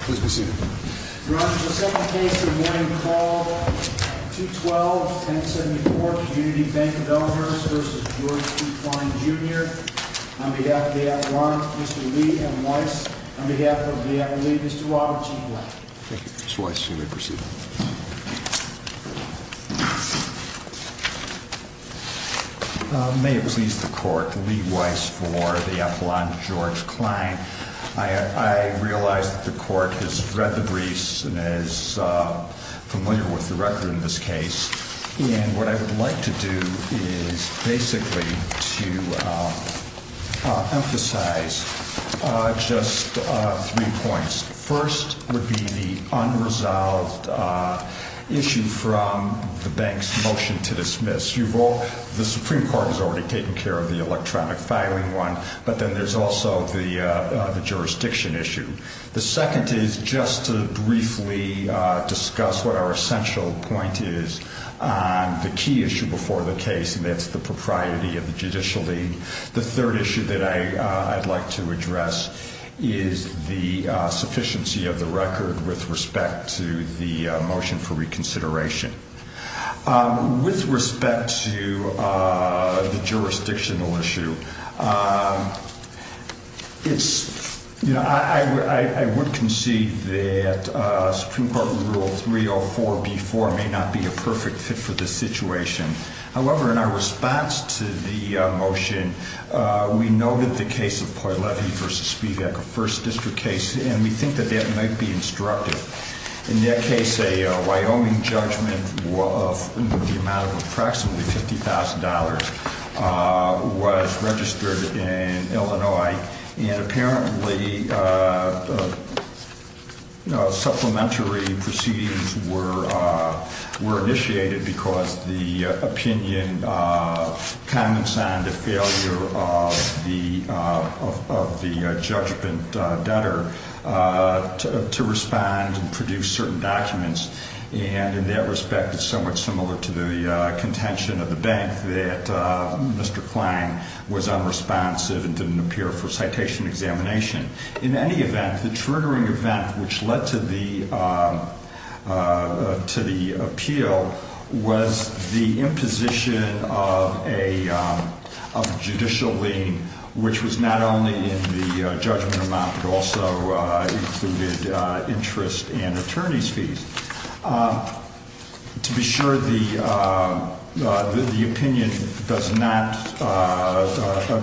May it please the Court, Lee Weiss for the Appellant, George Klein. I realize that the Court has read the briefs and is familiar with the record in this case. And what I would like to do is basically to emphasize just three points. First would be the unresolved issue from the bank's motion to dismiss. The Supreme Court has already taken care of the electronic filing one. But then there's also the jurisdiction issue. The second is just to briefly discuss what our essential point is on the key issue before the case, and that's the propriety of the Judicial League. The third issue that I'd like to address is the sufficiency of the record with respect to the motion for reconsideration. With respect to the jurisdictional issue, I would concede that Supreme Court Rule 304b-4 may not be a perfect fit for this situation. However, in our response to the motion, we noted the case of Poilevi v. Spivak, a First District case, and we think that that might be instructive. In that case, a Wyoming judgment of the amount of approximately $50,000 was registered in Illinois, and apparently supplementary proceedings were initiated because the opinion comments on the failure of the judgment debtor to respond and produce certain documents. And in that respect, it's somewhat similar to the contention of the bank that Mr. Klang was unresponsive and didn't appear for citation examination. In any event, the triggering event which led to the appeal was the imposition of a judicial lien, which was not only in the judgment amount but also included interest and attorney's fees. To be sure, the opinion does not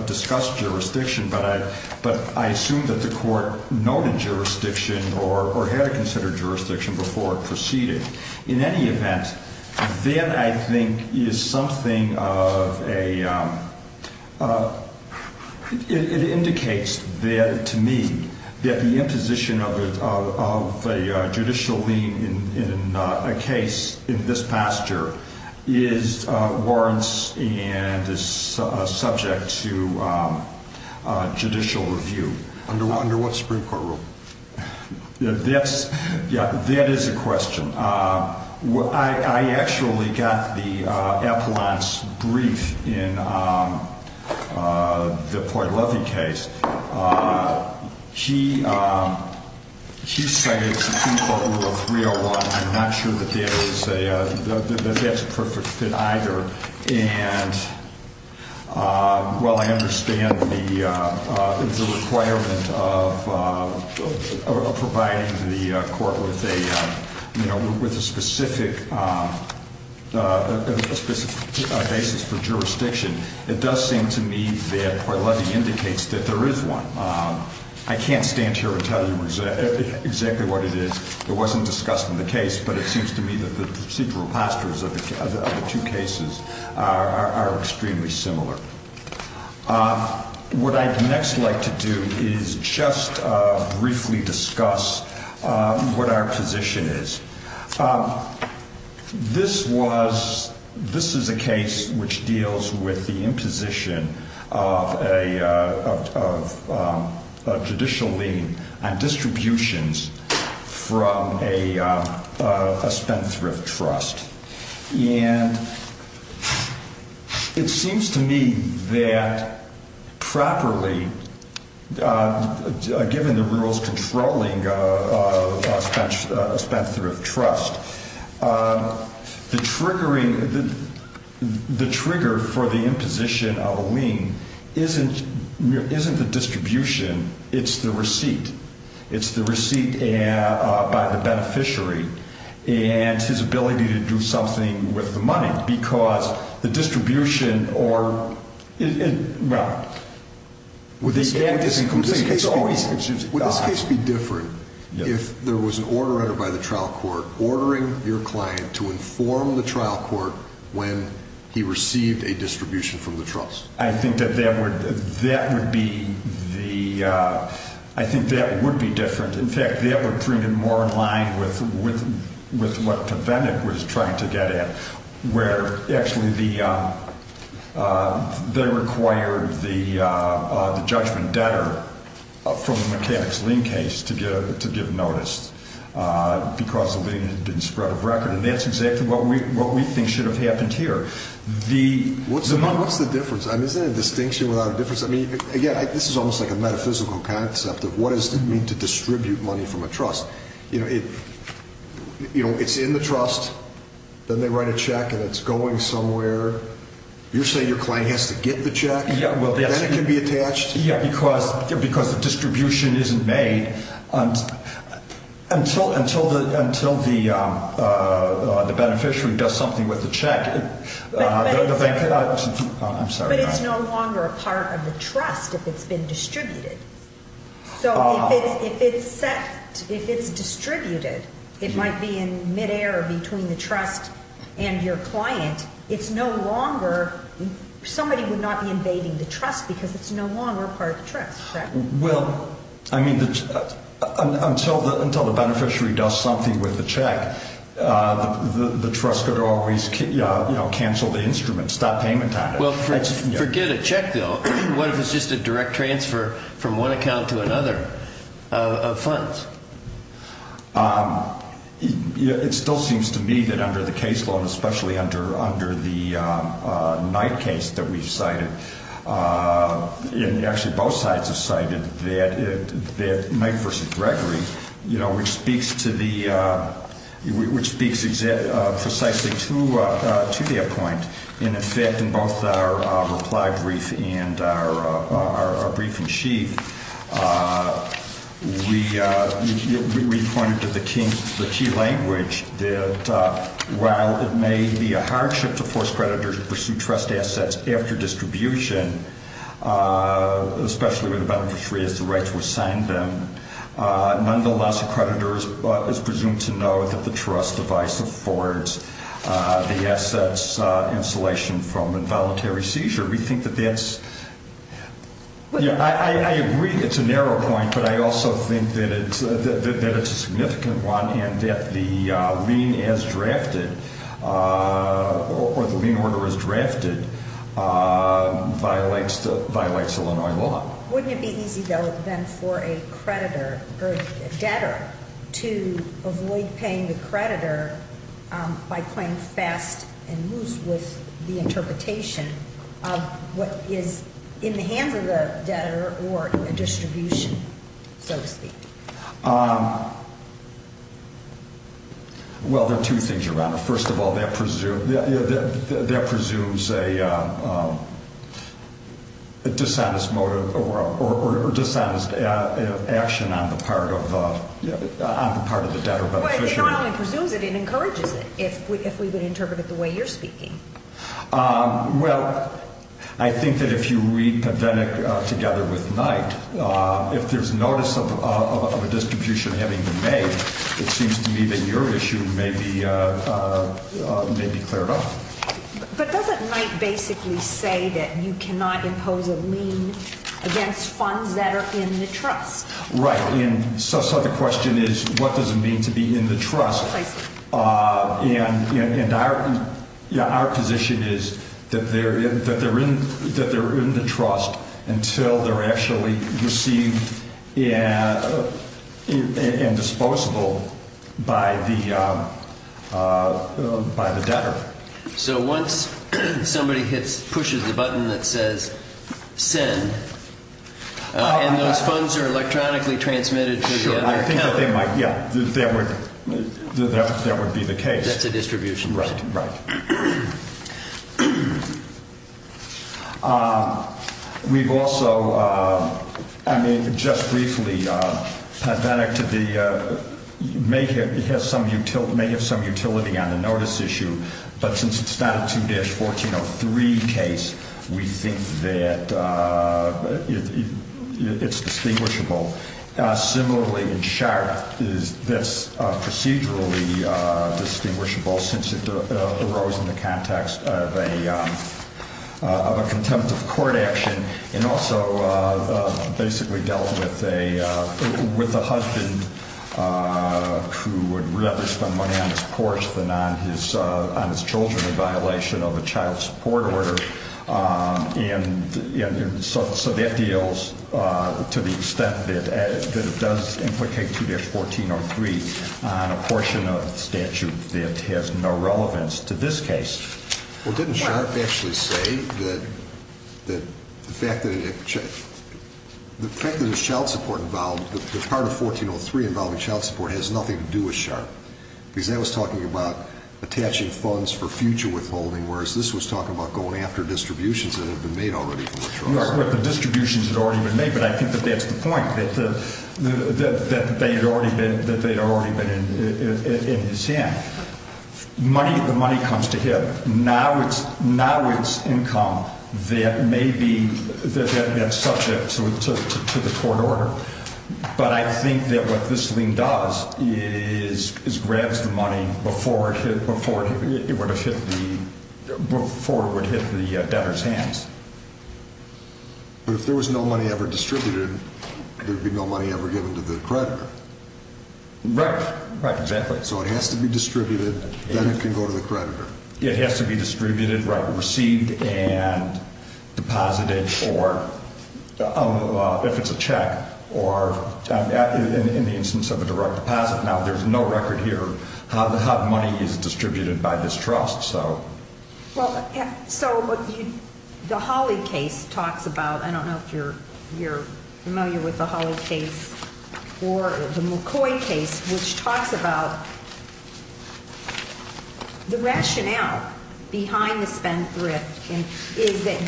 discuss jurisdiction, but I assume that the court noted jurisdiction or had considered jurisdiction before it proceeded. In any event, it indicates to me that the imposition of a judicial lien in a case in this pasture is warranted and is subject to judicial review. Under what Supreme Court rule? That is a question. I actually got the appellant's brief in the Poylovey case. He cited Supreme Court Rule 301. I'm not sure that that's a perfect fit either. And while I understand the requirement of providing the court with a specific basis for jurisdiction, it does seem to me that Poylovey indicates that there is one. I can't stand here and tell you exactly what it is. It wasn't discussed in the case, but it seems to me that the procedural pastures of the two cases are extremely similar. What I'd next like to do is just briefly discuss what our position is. This is a case which deals with the imposition of a judicial lien on distributions from a spent-thrift trust. It seems to me that properly, given the rules controlling a spent-thrift trust, the trigger for the imposition of a lien isn't the distribution. It's the receipt. It's the receipt by the beneficiary. And his ability to do something with the money, because the distribution or, well... Would this case be different if there was an order entered by the trial court ordering your client to inform the trial court when he received a distribution from the trust? I think that that would be the... I think that would be different. In fact, that would bring it more in line with what Pavenik was trying to get at, where actually they required the judgment debtor from the mechanics lien case to give notice because the lien didn't spread of record. And that's exactly what we think should have happened here. What's the difference? I mean, isn't it a distinction without a difference? I mean, again, this is almost like a metaphysical concept of what does it mean to distribute money from a trust. You know, it's in the trust. Then they write a check, and it's going somewhere. You're saying your client has to get the check? Yeah, well... Then it can be attached? Yeah, because the distribution isn't made until the beneficiary does something with the check. But it's... I'm sorry. But it's no longer a part of the trust if it's been distributed. So if it's set, if it's distributed, it might be in midair between the trust and your client. It's no longer... Somebody would not be invading the trust because it's no longer part of the trust, correct? Well, I mean, until the beneficiary does something with the check, the trust could always, you know, cancel the instrument, stop payment at it. Well, forget a check, though. What if it's just a direct transfer from one account to another of funds? It still seems to me that under the case law, and especially under the Knight case that we've cited, and actually both sides have cited, that Knight v. Gregory, you know, which speaks to the... which speaks precisely to that point. And, in fact, in both our reply brief and our briefing sheet, we pointed to the key language that, while it may be a hardship to force creditors to pursue trust assets after distribution, especially when the beneficiary has the right to assign them, nonetheless a creditor is presumed to know that the trust device affords the assets installation from involuntary seizure. We think that that's... Yeah, I agree it's a narrow point, but I also think that it's a significant one and that the lien as drafted or the lien order as drafted violates Illinois law. Wouldn't it be easy, though, then, for a creditor or a debtor to avoid paying the creditor by playing fast and loose with the interpretation of what is in the hands of the debtor or a distribution, so to speak? Well, there are two things around it. First of all, that presumes a dishonest motive or dishonest action on the part of the debtor beneficiary. It not only presumes it, it encourages it, if we would interpret it the way you're speaking. Well, I think that if you read Pedetic together with Knight, if there's notice of a distribution having been made, it seems to me that your issue may be cleared up. But doesn't Knight basically say that you cannot impose a lien against funds that are in the trust? Right, and so the question is, what does it mean to be in the trust? And our position is that they're in the trust until they're actually received and disposable by the debtor. So once somebody pushes the button that says send, and those funds are electronically transmitted to the other accountants. Sure, I think that they might, yeah, that would be the case. That's a distribution. Right, right. We've also, I mean, just briefly, Pedetic may have some utility on the notice issue, but since it's not a 2-1403 case, we think that it's distinguishable. Similarly, in Sharpe, that's procedurally distinguishable since it arose in the context of a contempt of court action and also basically dealt with a husband who would rather spend money on his porch than on his children in violation of a child support order. And so that deals to the extent that it does implicate 2-1403 on a portion of statute that has no relevance to this case. Well, didn't Sharpe actually say that the fact that there's child support involved, the part of 1403 involving child support has nothing to do with Sharpe? Because that was talking about attaching funds for future withholding, whereas this was talking about going after distributions that had been made already from Sharpe. Well, the distributions had already been made, but I think that that's the point, that they'd already been in his hand. The money comes to him. Now it's income that may be subject to the court order. But I think that what this thing does is grabs the money before it would hit the debtor's hands. But if there was no money ever distributed, there'd be no money ever given to the creditor. Right, right, exactly. So it has to be distributed, then it can go to the creditor. It has to be distributed, received, and deposited, or if it's a check, or in the instance of a direct deposit. Now, there's no record here of how the money is distributed by this trust. Well, so the Hawley case talks about, I don't know if you're familiar with the Hawley case or the McCoy case, which talks about the rationale behind the spendthrift is that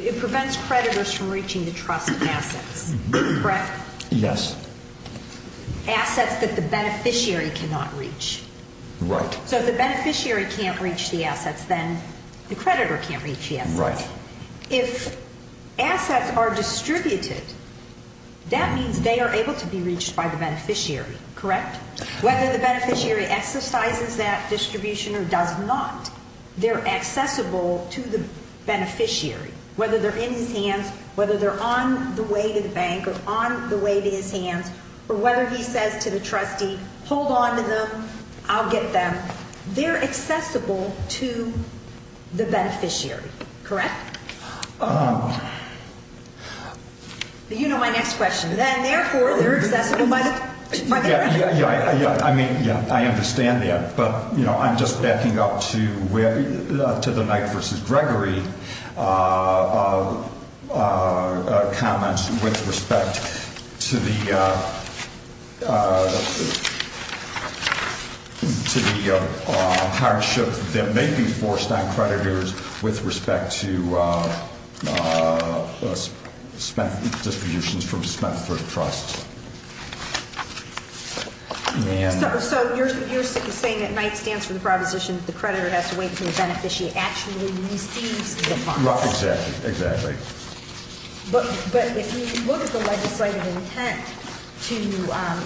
it prevents creditors from reaching the trust assets. Correct? Yes. Assets that the beneficiary cannot reach. Right. So if the beneficiary can't reach the assets, then the creditor can't reach the assets. Right. If assets are distributed, that means they are able to be reached by the beneficiary, correct? Whether the beneficiary exercises that distribution or does not, they're accessible to the beneficiary, whether they're in his hands, whether they're on the way to the bank or on the way to his hands, or whether he says to the trustee, hold on to them, I'll get them, they're accessible to the beneficiary. Correct? You know my next question. Then, therefore, they're accessible by the creditor. Yeah. I mean, yeah, I understand that. But, you know, I'm just backing up to the Knight v. Gregory comments with respect to the hardship that may be forced on creditors with respect to spendthrift distributions from spendthrift trusts. So you're saying that Knight stands for the proposition that the creditor has to wait until the beneficiary actually receives the funds? Exactly, exactly. But if you look at the legislative intent to,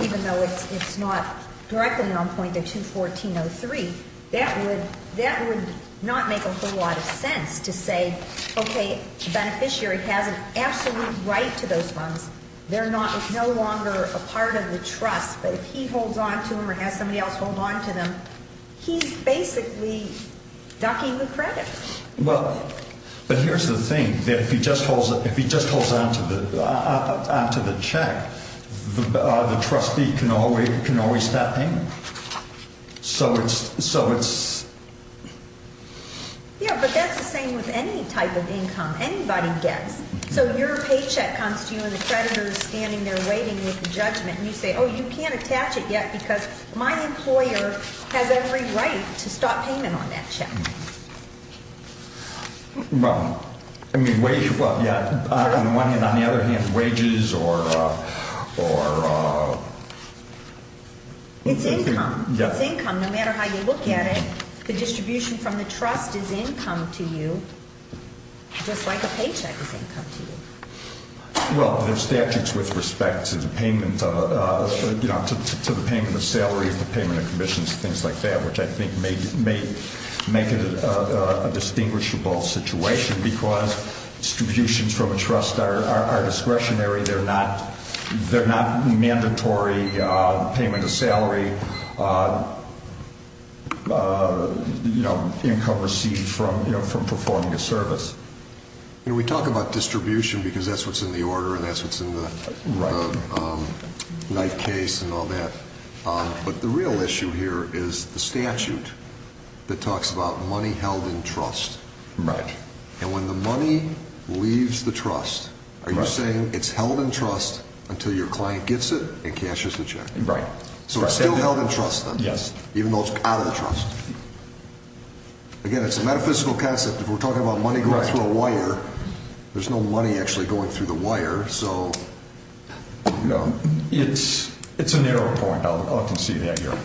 even though it's not directly on point to 214.03, that would not make a whole lot of sense to say, okay, the beneficiary has an absolute right to those funds. They're no longer a part of the trust. But if he holds on to them or has somebody else hold on to them, he's basically ducking the credit. Well, but here's the thing. If he just holds on to the check, the trustee can always step in. So it's… Yeah, but that's the same with any type of income anybody gets. So your paycheck comes to you and the creditor is standing there waiting with the judgment. And you say, oh, you can't attach it yet because my employer has every right to stop payment on that check. Well, I mean, well, yeah, on the one hand. On the other hand, wages or… It's income. It's income. No matter how you look at it, the distribution from the trust is income to you just like a paycheck is income to you. Well, there are statutes with respect to the payment of salary, the payment of commissions, things like that, which I think may make it a distinguishable situation because distributions from a trust are discretionary. They're not mandatory. Payment of salary, income received from performing a service. We talk about distribution because that's what's in the order and that's what's in the knife case and all that. But the real issue here is the statute that talks about money held in trust. Right. And when the money leaves the trust, are you saying it's held in trust until your client gets it and cashes the check? Right. So it's still held in trust then? Yes. Even though it's out of the trust? Again, it's a metaphysical concept. If we're talking about money going through a wire, there's no money actually going through the wire, so… It's a narrow point. I'll concede that here.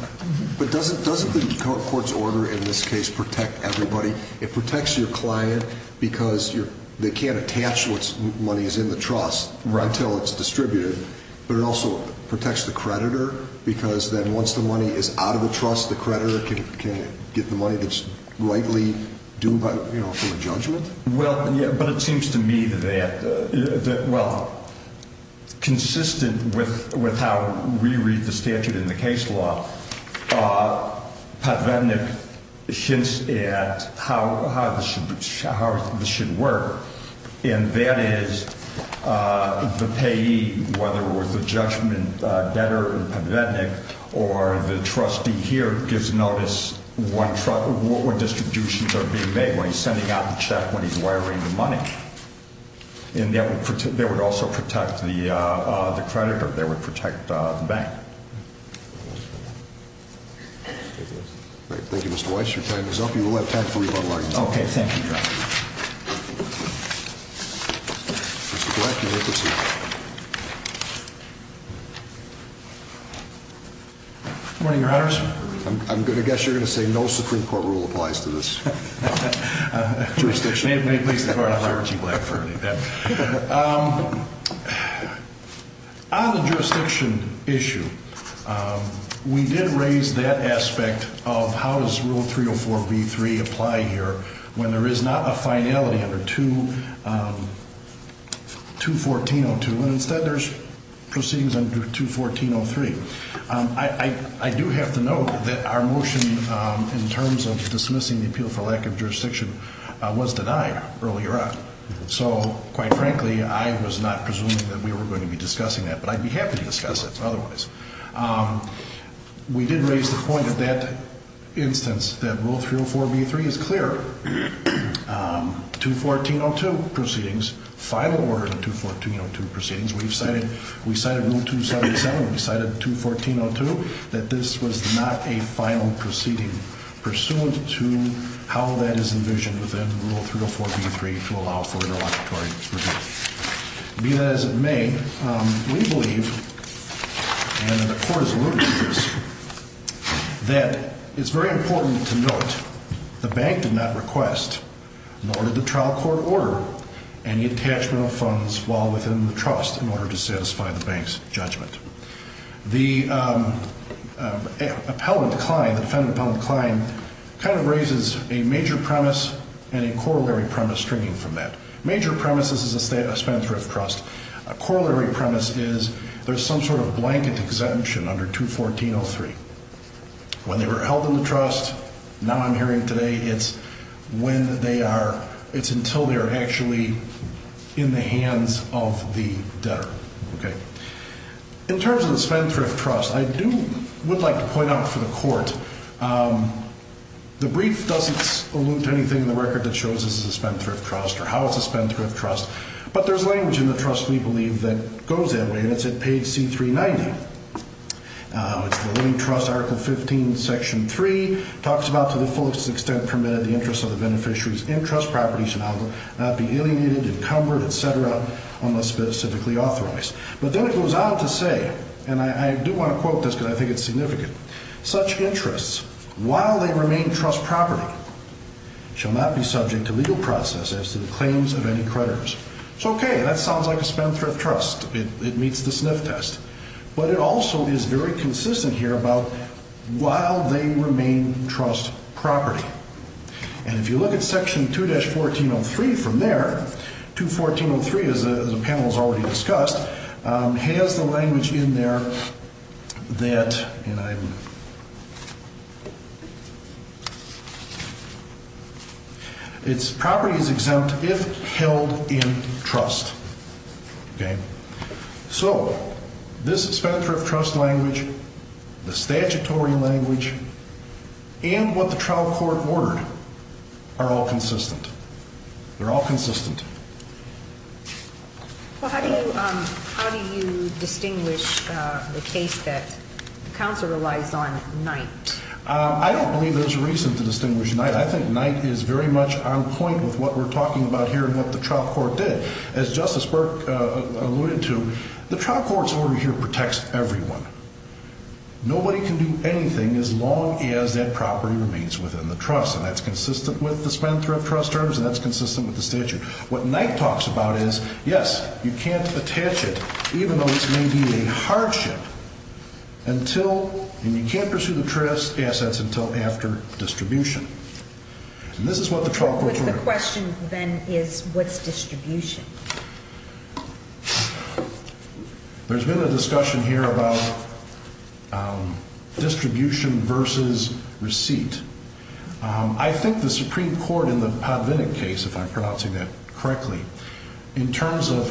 But doesn't the court's order in this case protect everybody? It protects your client because they can't attach what money is in the trust until it's distributed, but it also protects the creditor because then once the money is out of the trust, the creditor can get the money that's rightly due from a judgment? Well, yeah, but it seems to me that, well, consistent with how we read the statute in the case law, Padvetnik hints at how this should work, and that is the payee, whether it was the judgment debtor in Padvetnik or the trustee here, gives notice when distributions are being made, when he's sending out the check, when he's wiring the money. And that would also protect the creditor. That would protect the bank. Thank you, Mr. Weiss. Your time is up. You will have time for rebuttal. Okay. Thank you, Judge. Mr. Black, you may proceed. Good morning, Your Honors. I'm going to guess you're going to say no Supreme Court rule applies to this jurisdiction. May it please the Court, I'm Robert G. Black, for any of that. On the jurisdiction issue, we did raise that aspect of how does Rule 304B3 apply here when there is not a finality under 214.02, and instead there's proceedings under 214.03. I do have to note that our motion in terms of dismissing the appeal for lack of jurisdiction was denied earlier on. So, quite frankly, I was not presuming that we were going to be discussing that, but I'd be happy to discuss it otherwise. We did raise the point at that instance that Rule 304B3 is clear. 214.02 proceedings, final order of 214.02 proceedings, we've cited Rule 277, we've cited 214.02, that this was not a final proceeding pursuant to how that is envisioned within Rule 304B3 to allow for interlocutory review. Be that as it may, we believe, and the Court has alluded to this, that it's very important to note the bank did not request, nor did the trial court order, any attachment of funds while within the trust in order to satisfy the bank's judgment. The defendant appellant decline kind of raises a major premise and a corollary premise stringing from that. Major premise is a spendthrift trust. A corollary premise is there's some sort of blanket exemption under 214.03. When they were held in the trust, now I'm hearing today, it's when they are, it's until they are actually in the hands of the debtor. In terms of the spendthrift trust, I do, would like to point out for the Court, the brief doesn't allude to anything in the record that shows this is a spendthrift trust or how it's a spendthrift trust, but there's language in the trust, we believe, that goes that way, and it's at page C390. It's the Living Trust, Article 15, Section 3, talks about to the fullest extent permitted, the interest of the beneficiary's in-trust properties should not be alienated, encumbered, et cetera, unless specifically authorized. But then it goes on to say, and I do want to quote this because I think it's significant, such interests, while they remain trust property, shall not be subject to legal process as to the claims of any creditors. So, okay, that sounds like a spendthrift trust. It meets the sniff test. But it also is very consistent here about while they remain trust property. And if you look at Section 2-1403 from there, 21403, as the panel has already discussed, has the language in there that its property is exempt if held in trust. Okay? So this spendthrift trust language, the statutory language, and what the trial court ordered are all consistent. They're all consistent. Well, how do you distinguish the case that the counsel relies on, Knight? I don't believe there's a reason to distinguish Knight. I think Knight is very much on point with what we're talking about here and what the trial court did. As Justice Burke alluded to, the trial court's order here protects everyone. Nobody can do anything as long as that property remains within the trust, and that's consistent with the spendthrift trust terms and that's consistent with the statute. What Knight talks about is, yes, you can't attach it, even though it may be a hardship, until, and you can't pursue the trust assets until after distribution. And this is what the trial court ordered. My question, then, is what's distribution? There's been a discussion here about distribution versus receipt. I think the Supreme Court in the Podvinnik case, if I'm pronouncing that correctly, in terms of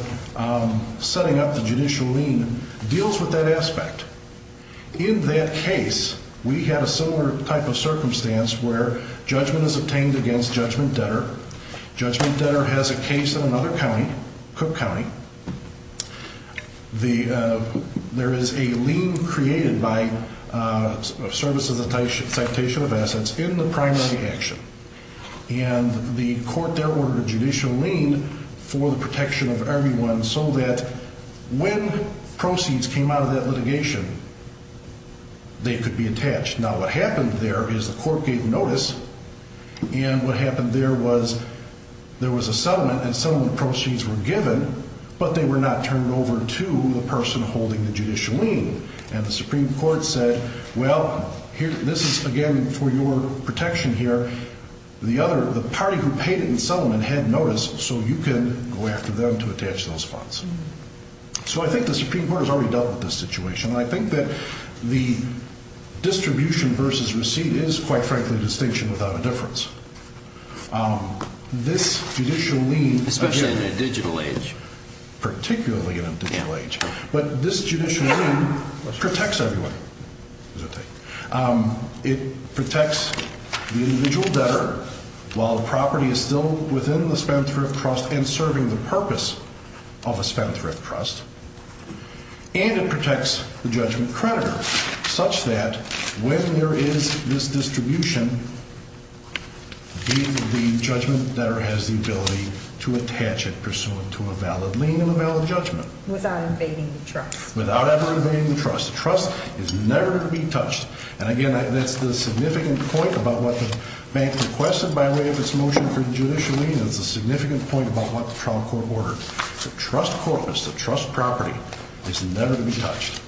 setting up the judicial lien, deals with that aspect. In that case, we had a similar type of circumstance where judgment is obtained against judgment debtor. Judgment debtor has a case in another county, Cook County. There is a lien created by service of citation of assets in the primary action, and the court there ordered a judicial lien for the protection of everyone so that when proceeds came out of that litigation, they could be attached. Now, what happened there is the court gave notice, and what happened there was there was a settlement, and settlement proceeds were given, but they were not turned over to the person holding the judicial lien. And the Supreme Court said, well, this is, again, for your protection here. The party who paid it in settlement had notice, so you can go after them to attach those funds. So I think the Supreme Court has already dealt with this situation, and I think that the distribution versus receipt is, quite frankly, distinction without a difference. This judicial lien, again— Especially in a digital age. Particularly in a digital age. But this judicial lien protects everyone. It protects the individual debtor while the property is still within the spendthrift trust and serving the purpose of a spendthrift trust, and it protects the judgment creditor such that when there is this distribution, the judgment debtor has the ability to attach it pursuant to a valid lien and a valid judgment. Without invading the trust. Without ever invading the trust. The trust is never to be touched. And, again, that's the significant point about what the bank requested by way of its motion for the judicial lien. It's a significant point about what the trial court ordered. The trust corpus, the trust property, is never to be touched.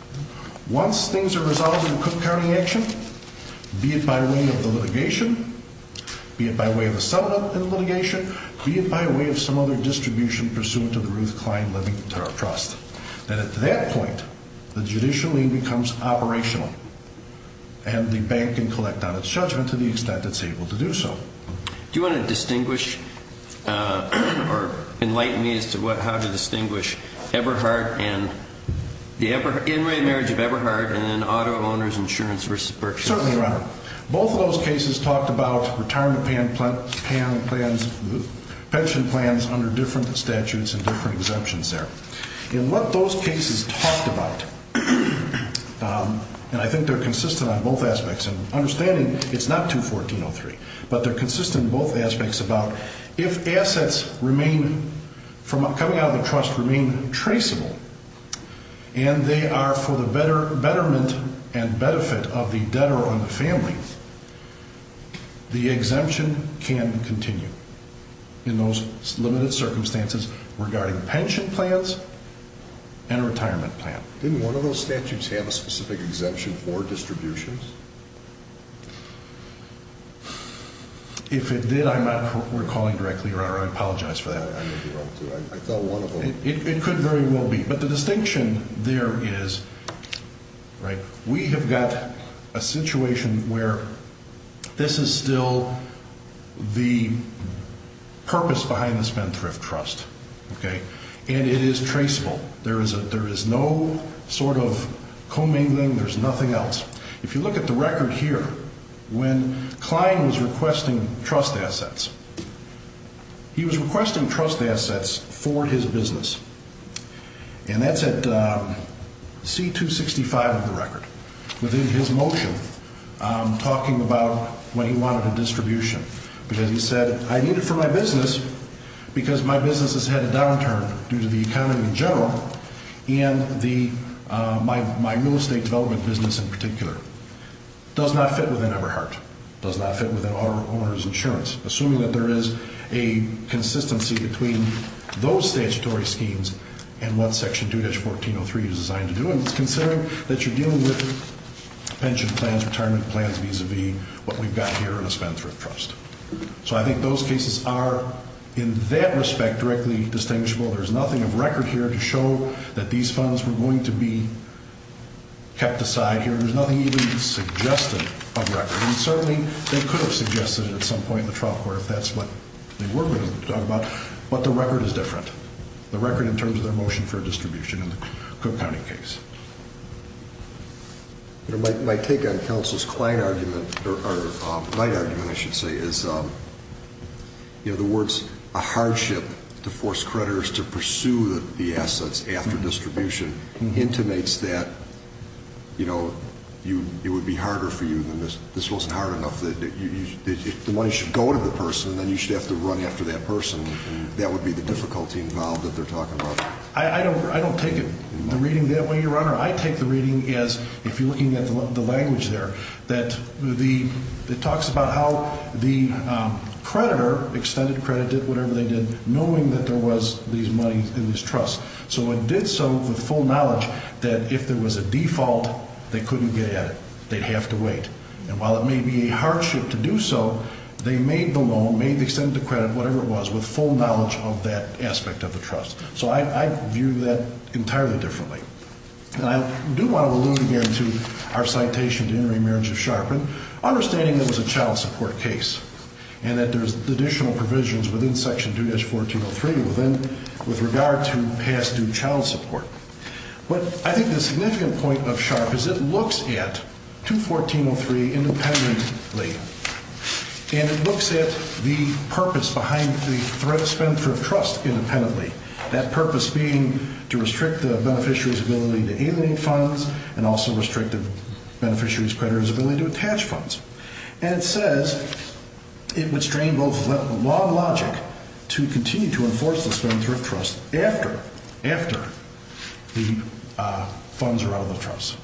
Once things are resolved in Cook County action, be it by way of the litigation, be it by way of the settlement and litigation, be it by way of some other distribution pursuant to the Ruth Klein Living Tariff Trust, then at that point the judicial lien becomes operational and the bank can collect on its judgment to the extent it's able to do so. Do you want to distinguish or enlighten me as to how to distinguish Everhart and the in-way marriage of Everhart and then auto owners insurance versus purchase? Certainly, Your Honor. Both of those cases talked about retirement pension plans under different statutes and different exemptions there. In what those cases talked about, and I think they're consistent on both aspects, and understanding it's not 214.03, but they're consistent in both aspects about if assets remain from coming out of the trust remain traceable and they are for the betterment and benefit of the debtor or the family, the exemption can continue in those limited circumstances regarding pension plans and a retirement plan. Didn't one of those statutes have a specific exemption for distributions? If it did, I'm not recalling directly, Your Honor. I apologize for that. I thought one of them. It could very well be, but the distinction there is, right, we have got a situation where this is still the purpose behind the Spendthrift Trust, and it is traceable. There is no sort of commingling. There's nothing else. If you look at the record here, when Kline was requesting trust assets, he was requesting trust assets for his business, and that's at C-265 of the record, within his motion, talking about when he wanted a distribution, because he said, I need it for my business because my business has had a downturn due to the economy in general, and my real estate development business in particular does not fit within Eberhardt, does not fit within our owner's insurance. Assuming that there is a consistency between those statutory schemes and what Section 2-1403 is designed to do, and it's considering that you're dealing with pension plans, retirement plans, vis-a-vis what we've got here in a Spendthrift Trust. So I think those cases are, in that respect, directly distinguishable. There's nothing of record here to show that these funds were going to be kept aside here. There's nothing even suggested of record, and certainly they could have suggested it at some point in the trial court, if that's what they were going to talk about, but the record is different. The record in terms of their motion for a distribution in the Cook County case. My take on Counselor Kline's argument, or Kline's argument, I should say, is the words, a hardship to force creditors to pursue the assets after distribution, intimates that it would be harder for you than this. This wasn't hard enough. The money should go to the person, and then you should have to run after that person. That would be the difficulty involved that they're talking about. I don't take it, the reading that way, Your Honor. I take the reading as, if you're looking at the language there, that it talks about how the creditor, extended credit, did whatever they did, knowing that there was these monies in this trust. So it did so with full knowledge that if there was a default, they couldn't get at it. They'd have to wait. And while it may be a hardship to do so, they made the loan, made the extended credit, whatever it was, with full knowledge of that aspect of the trust. So I view that entirely differently. And I do want to allude here to our citation to intermarriage of Sharpen, understanding that it was a child support case, and that there's additional provisions within Section 2-1403 with regard to past due child support. But I think the significant point of Sharpen is it looks at 214.03 independently, and it looks at the purpose behind the spend for trust independently, that purpose being to restrict the beneficiary's ability to alienate funds and also restrict the beneficiary's creditor's ability to attach funds. And it says it would strain both law and logic to continue to enforce the spend for trust after the funds are out of the trust.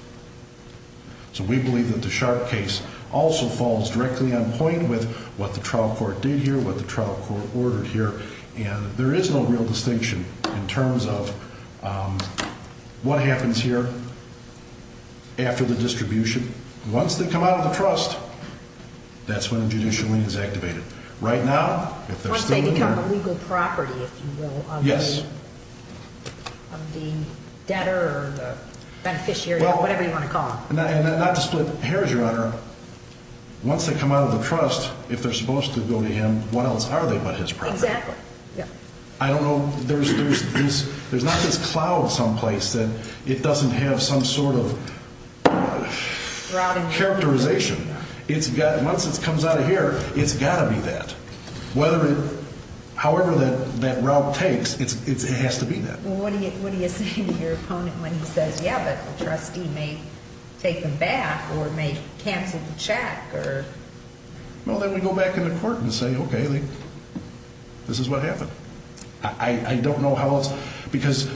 So we believe that the Sharp case also falls directly on point with what the trial court did here, what the trial court ordered here. And there is no real distinction in terms of what happens here after the distribution. Once they come out of the trust, that's when a judicial lien is activated. Once they become a legal property, if you will, of the debtor or the beneficiary or whatever you want to call them. Not to split hairs, Your Honor. Once they come out of the trust, if they're supposed to go to him, what else are they but his property? Exactly. I don't know. There's not this cloud someplace that it doesn't have some sort of characterization. Once it comes out of here, it's got to be that. However that route takes, it has to be that. What do you say to your opponent when he says, yeah, but the trustee may take them back or may cancel the check? Well, then we go back in the court and say, okay, this is what happened. I don't know how else. Because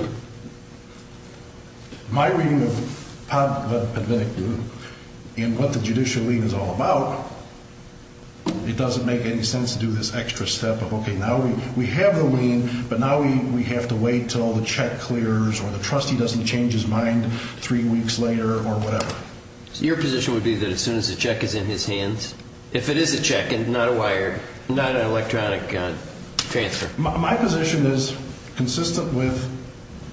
my reading of what the judicial lien is all about, it doesn't make any sense to do this extra step of, okay, now we have the lien, but now we have to wait until the check clears or the trustee doesn't change his mind three weeks later or whatever. Your position would be that as soon as the check is in his hands, if it is a check and not a wire, not an electronic transfer? My position is consistent with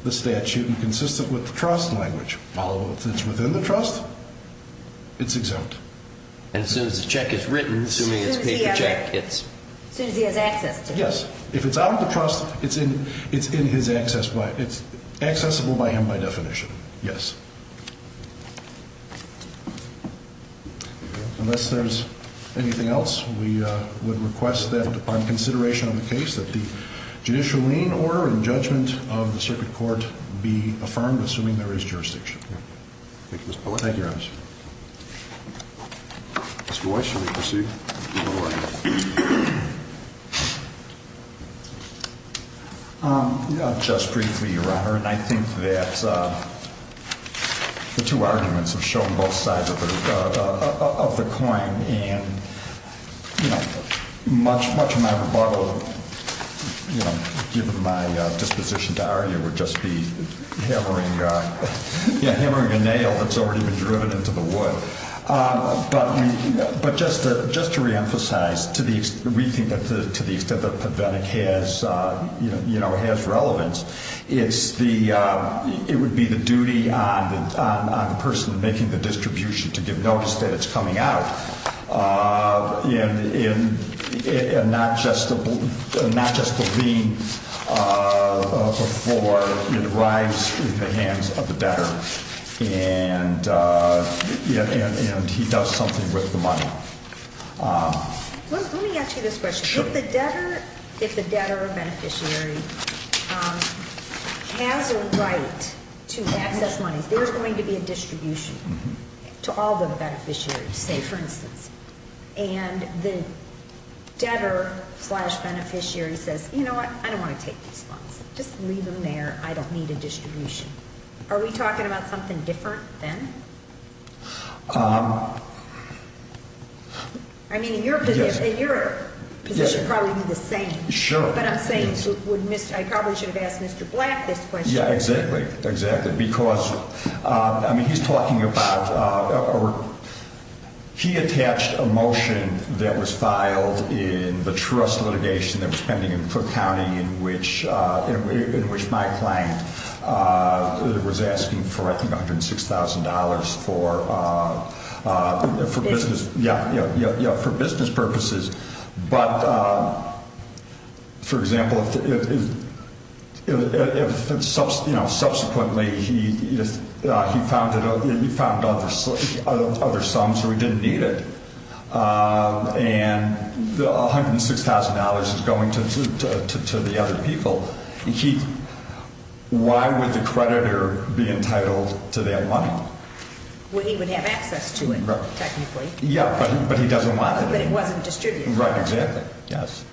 the statute and consistent with the trust language. If it's within the trust, it's exempt. And as soon as the check is written, assuming it's a paper check, it's? As soon as he has access to it. Yes. If it's out of the trust, it's in his access. It's accessible by him by definition. Yes. Unless there's anything else, we would request that upon consideration of the case, that the judicial lien order and judgment of the circuit court be affirmed, assuming there is jurisdiction. Thank you, Mr. Poehler. Thank you, Your Honor. Mr. Weiss, should we proceed? Just briefly, Your Honor. And I think that the two arguments have shown both sides of the coin. And, you know, much of my rebuttal, you know, given my disposition to argue, would just be hammering a nail that's already been driven into the wood. But just to reemphasize, to the extent that it has relevance, it would be the duty on the person making the distribution to give notice that it's coming out. And not just the lien before it arrives in the hands of the debtor. And he does something with the money. Let me ask you this question. Sure. If the debtor or beneficiary has a right to access money, there's going to be a distribution to all the beneficiaries, say, for instance. And the debtor slash beneficiary says, you know what, I don't want to take these funds. Just leave them there. I don't need a distribution. Are we talking about something different then? I mean, in your position, it would probably be the same. Sure. But I'm saying I probably should have asked Mr. Black this question. Yeah, exactly. Because, I mean, he's talking about he attached a motion that was filed in the trust litigation that was pending in Cook County in which my client was asking for, I think, $106,000 for business purposes. But, for example, if subsequently he found other sums or he didn't need it, and the $106,000 is going to the other people, why would the creditor be entitled to that money? Well, he would have access to it, technically. Yeah, but he doesn't want it. But it wasn't distributed. Right, exactly. Yes.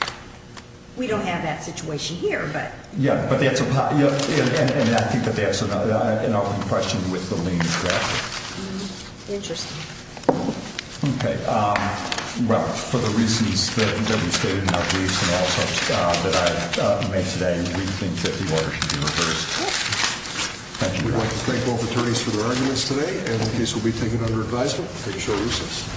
We don't have that situation here, but. Yeah, but that's, and I think that that's an open question with the lean traffic. Interesting. Okay. Well, for the reasons that have been stated in our briefs and also that I made today, we think that the order should be reversed. Thank you. We'd like to thank both attorneys for their arguments today, and the case will be taken under advisement. Take a short recess.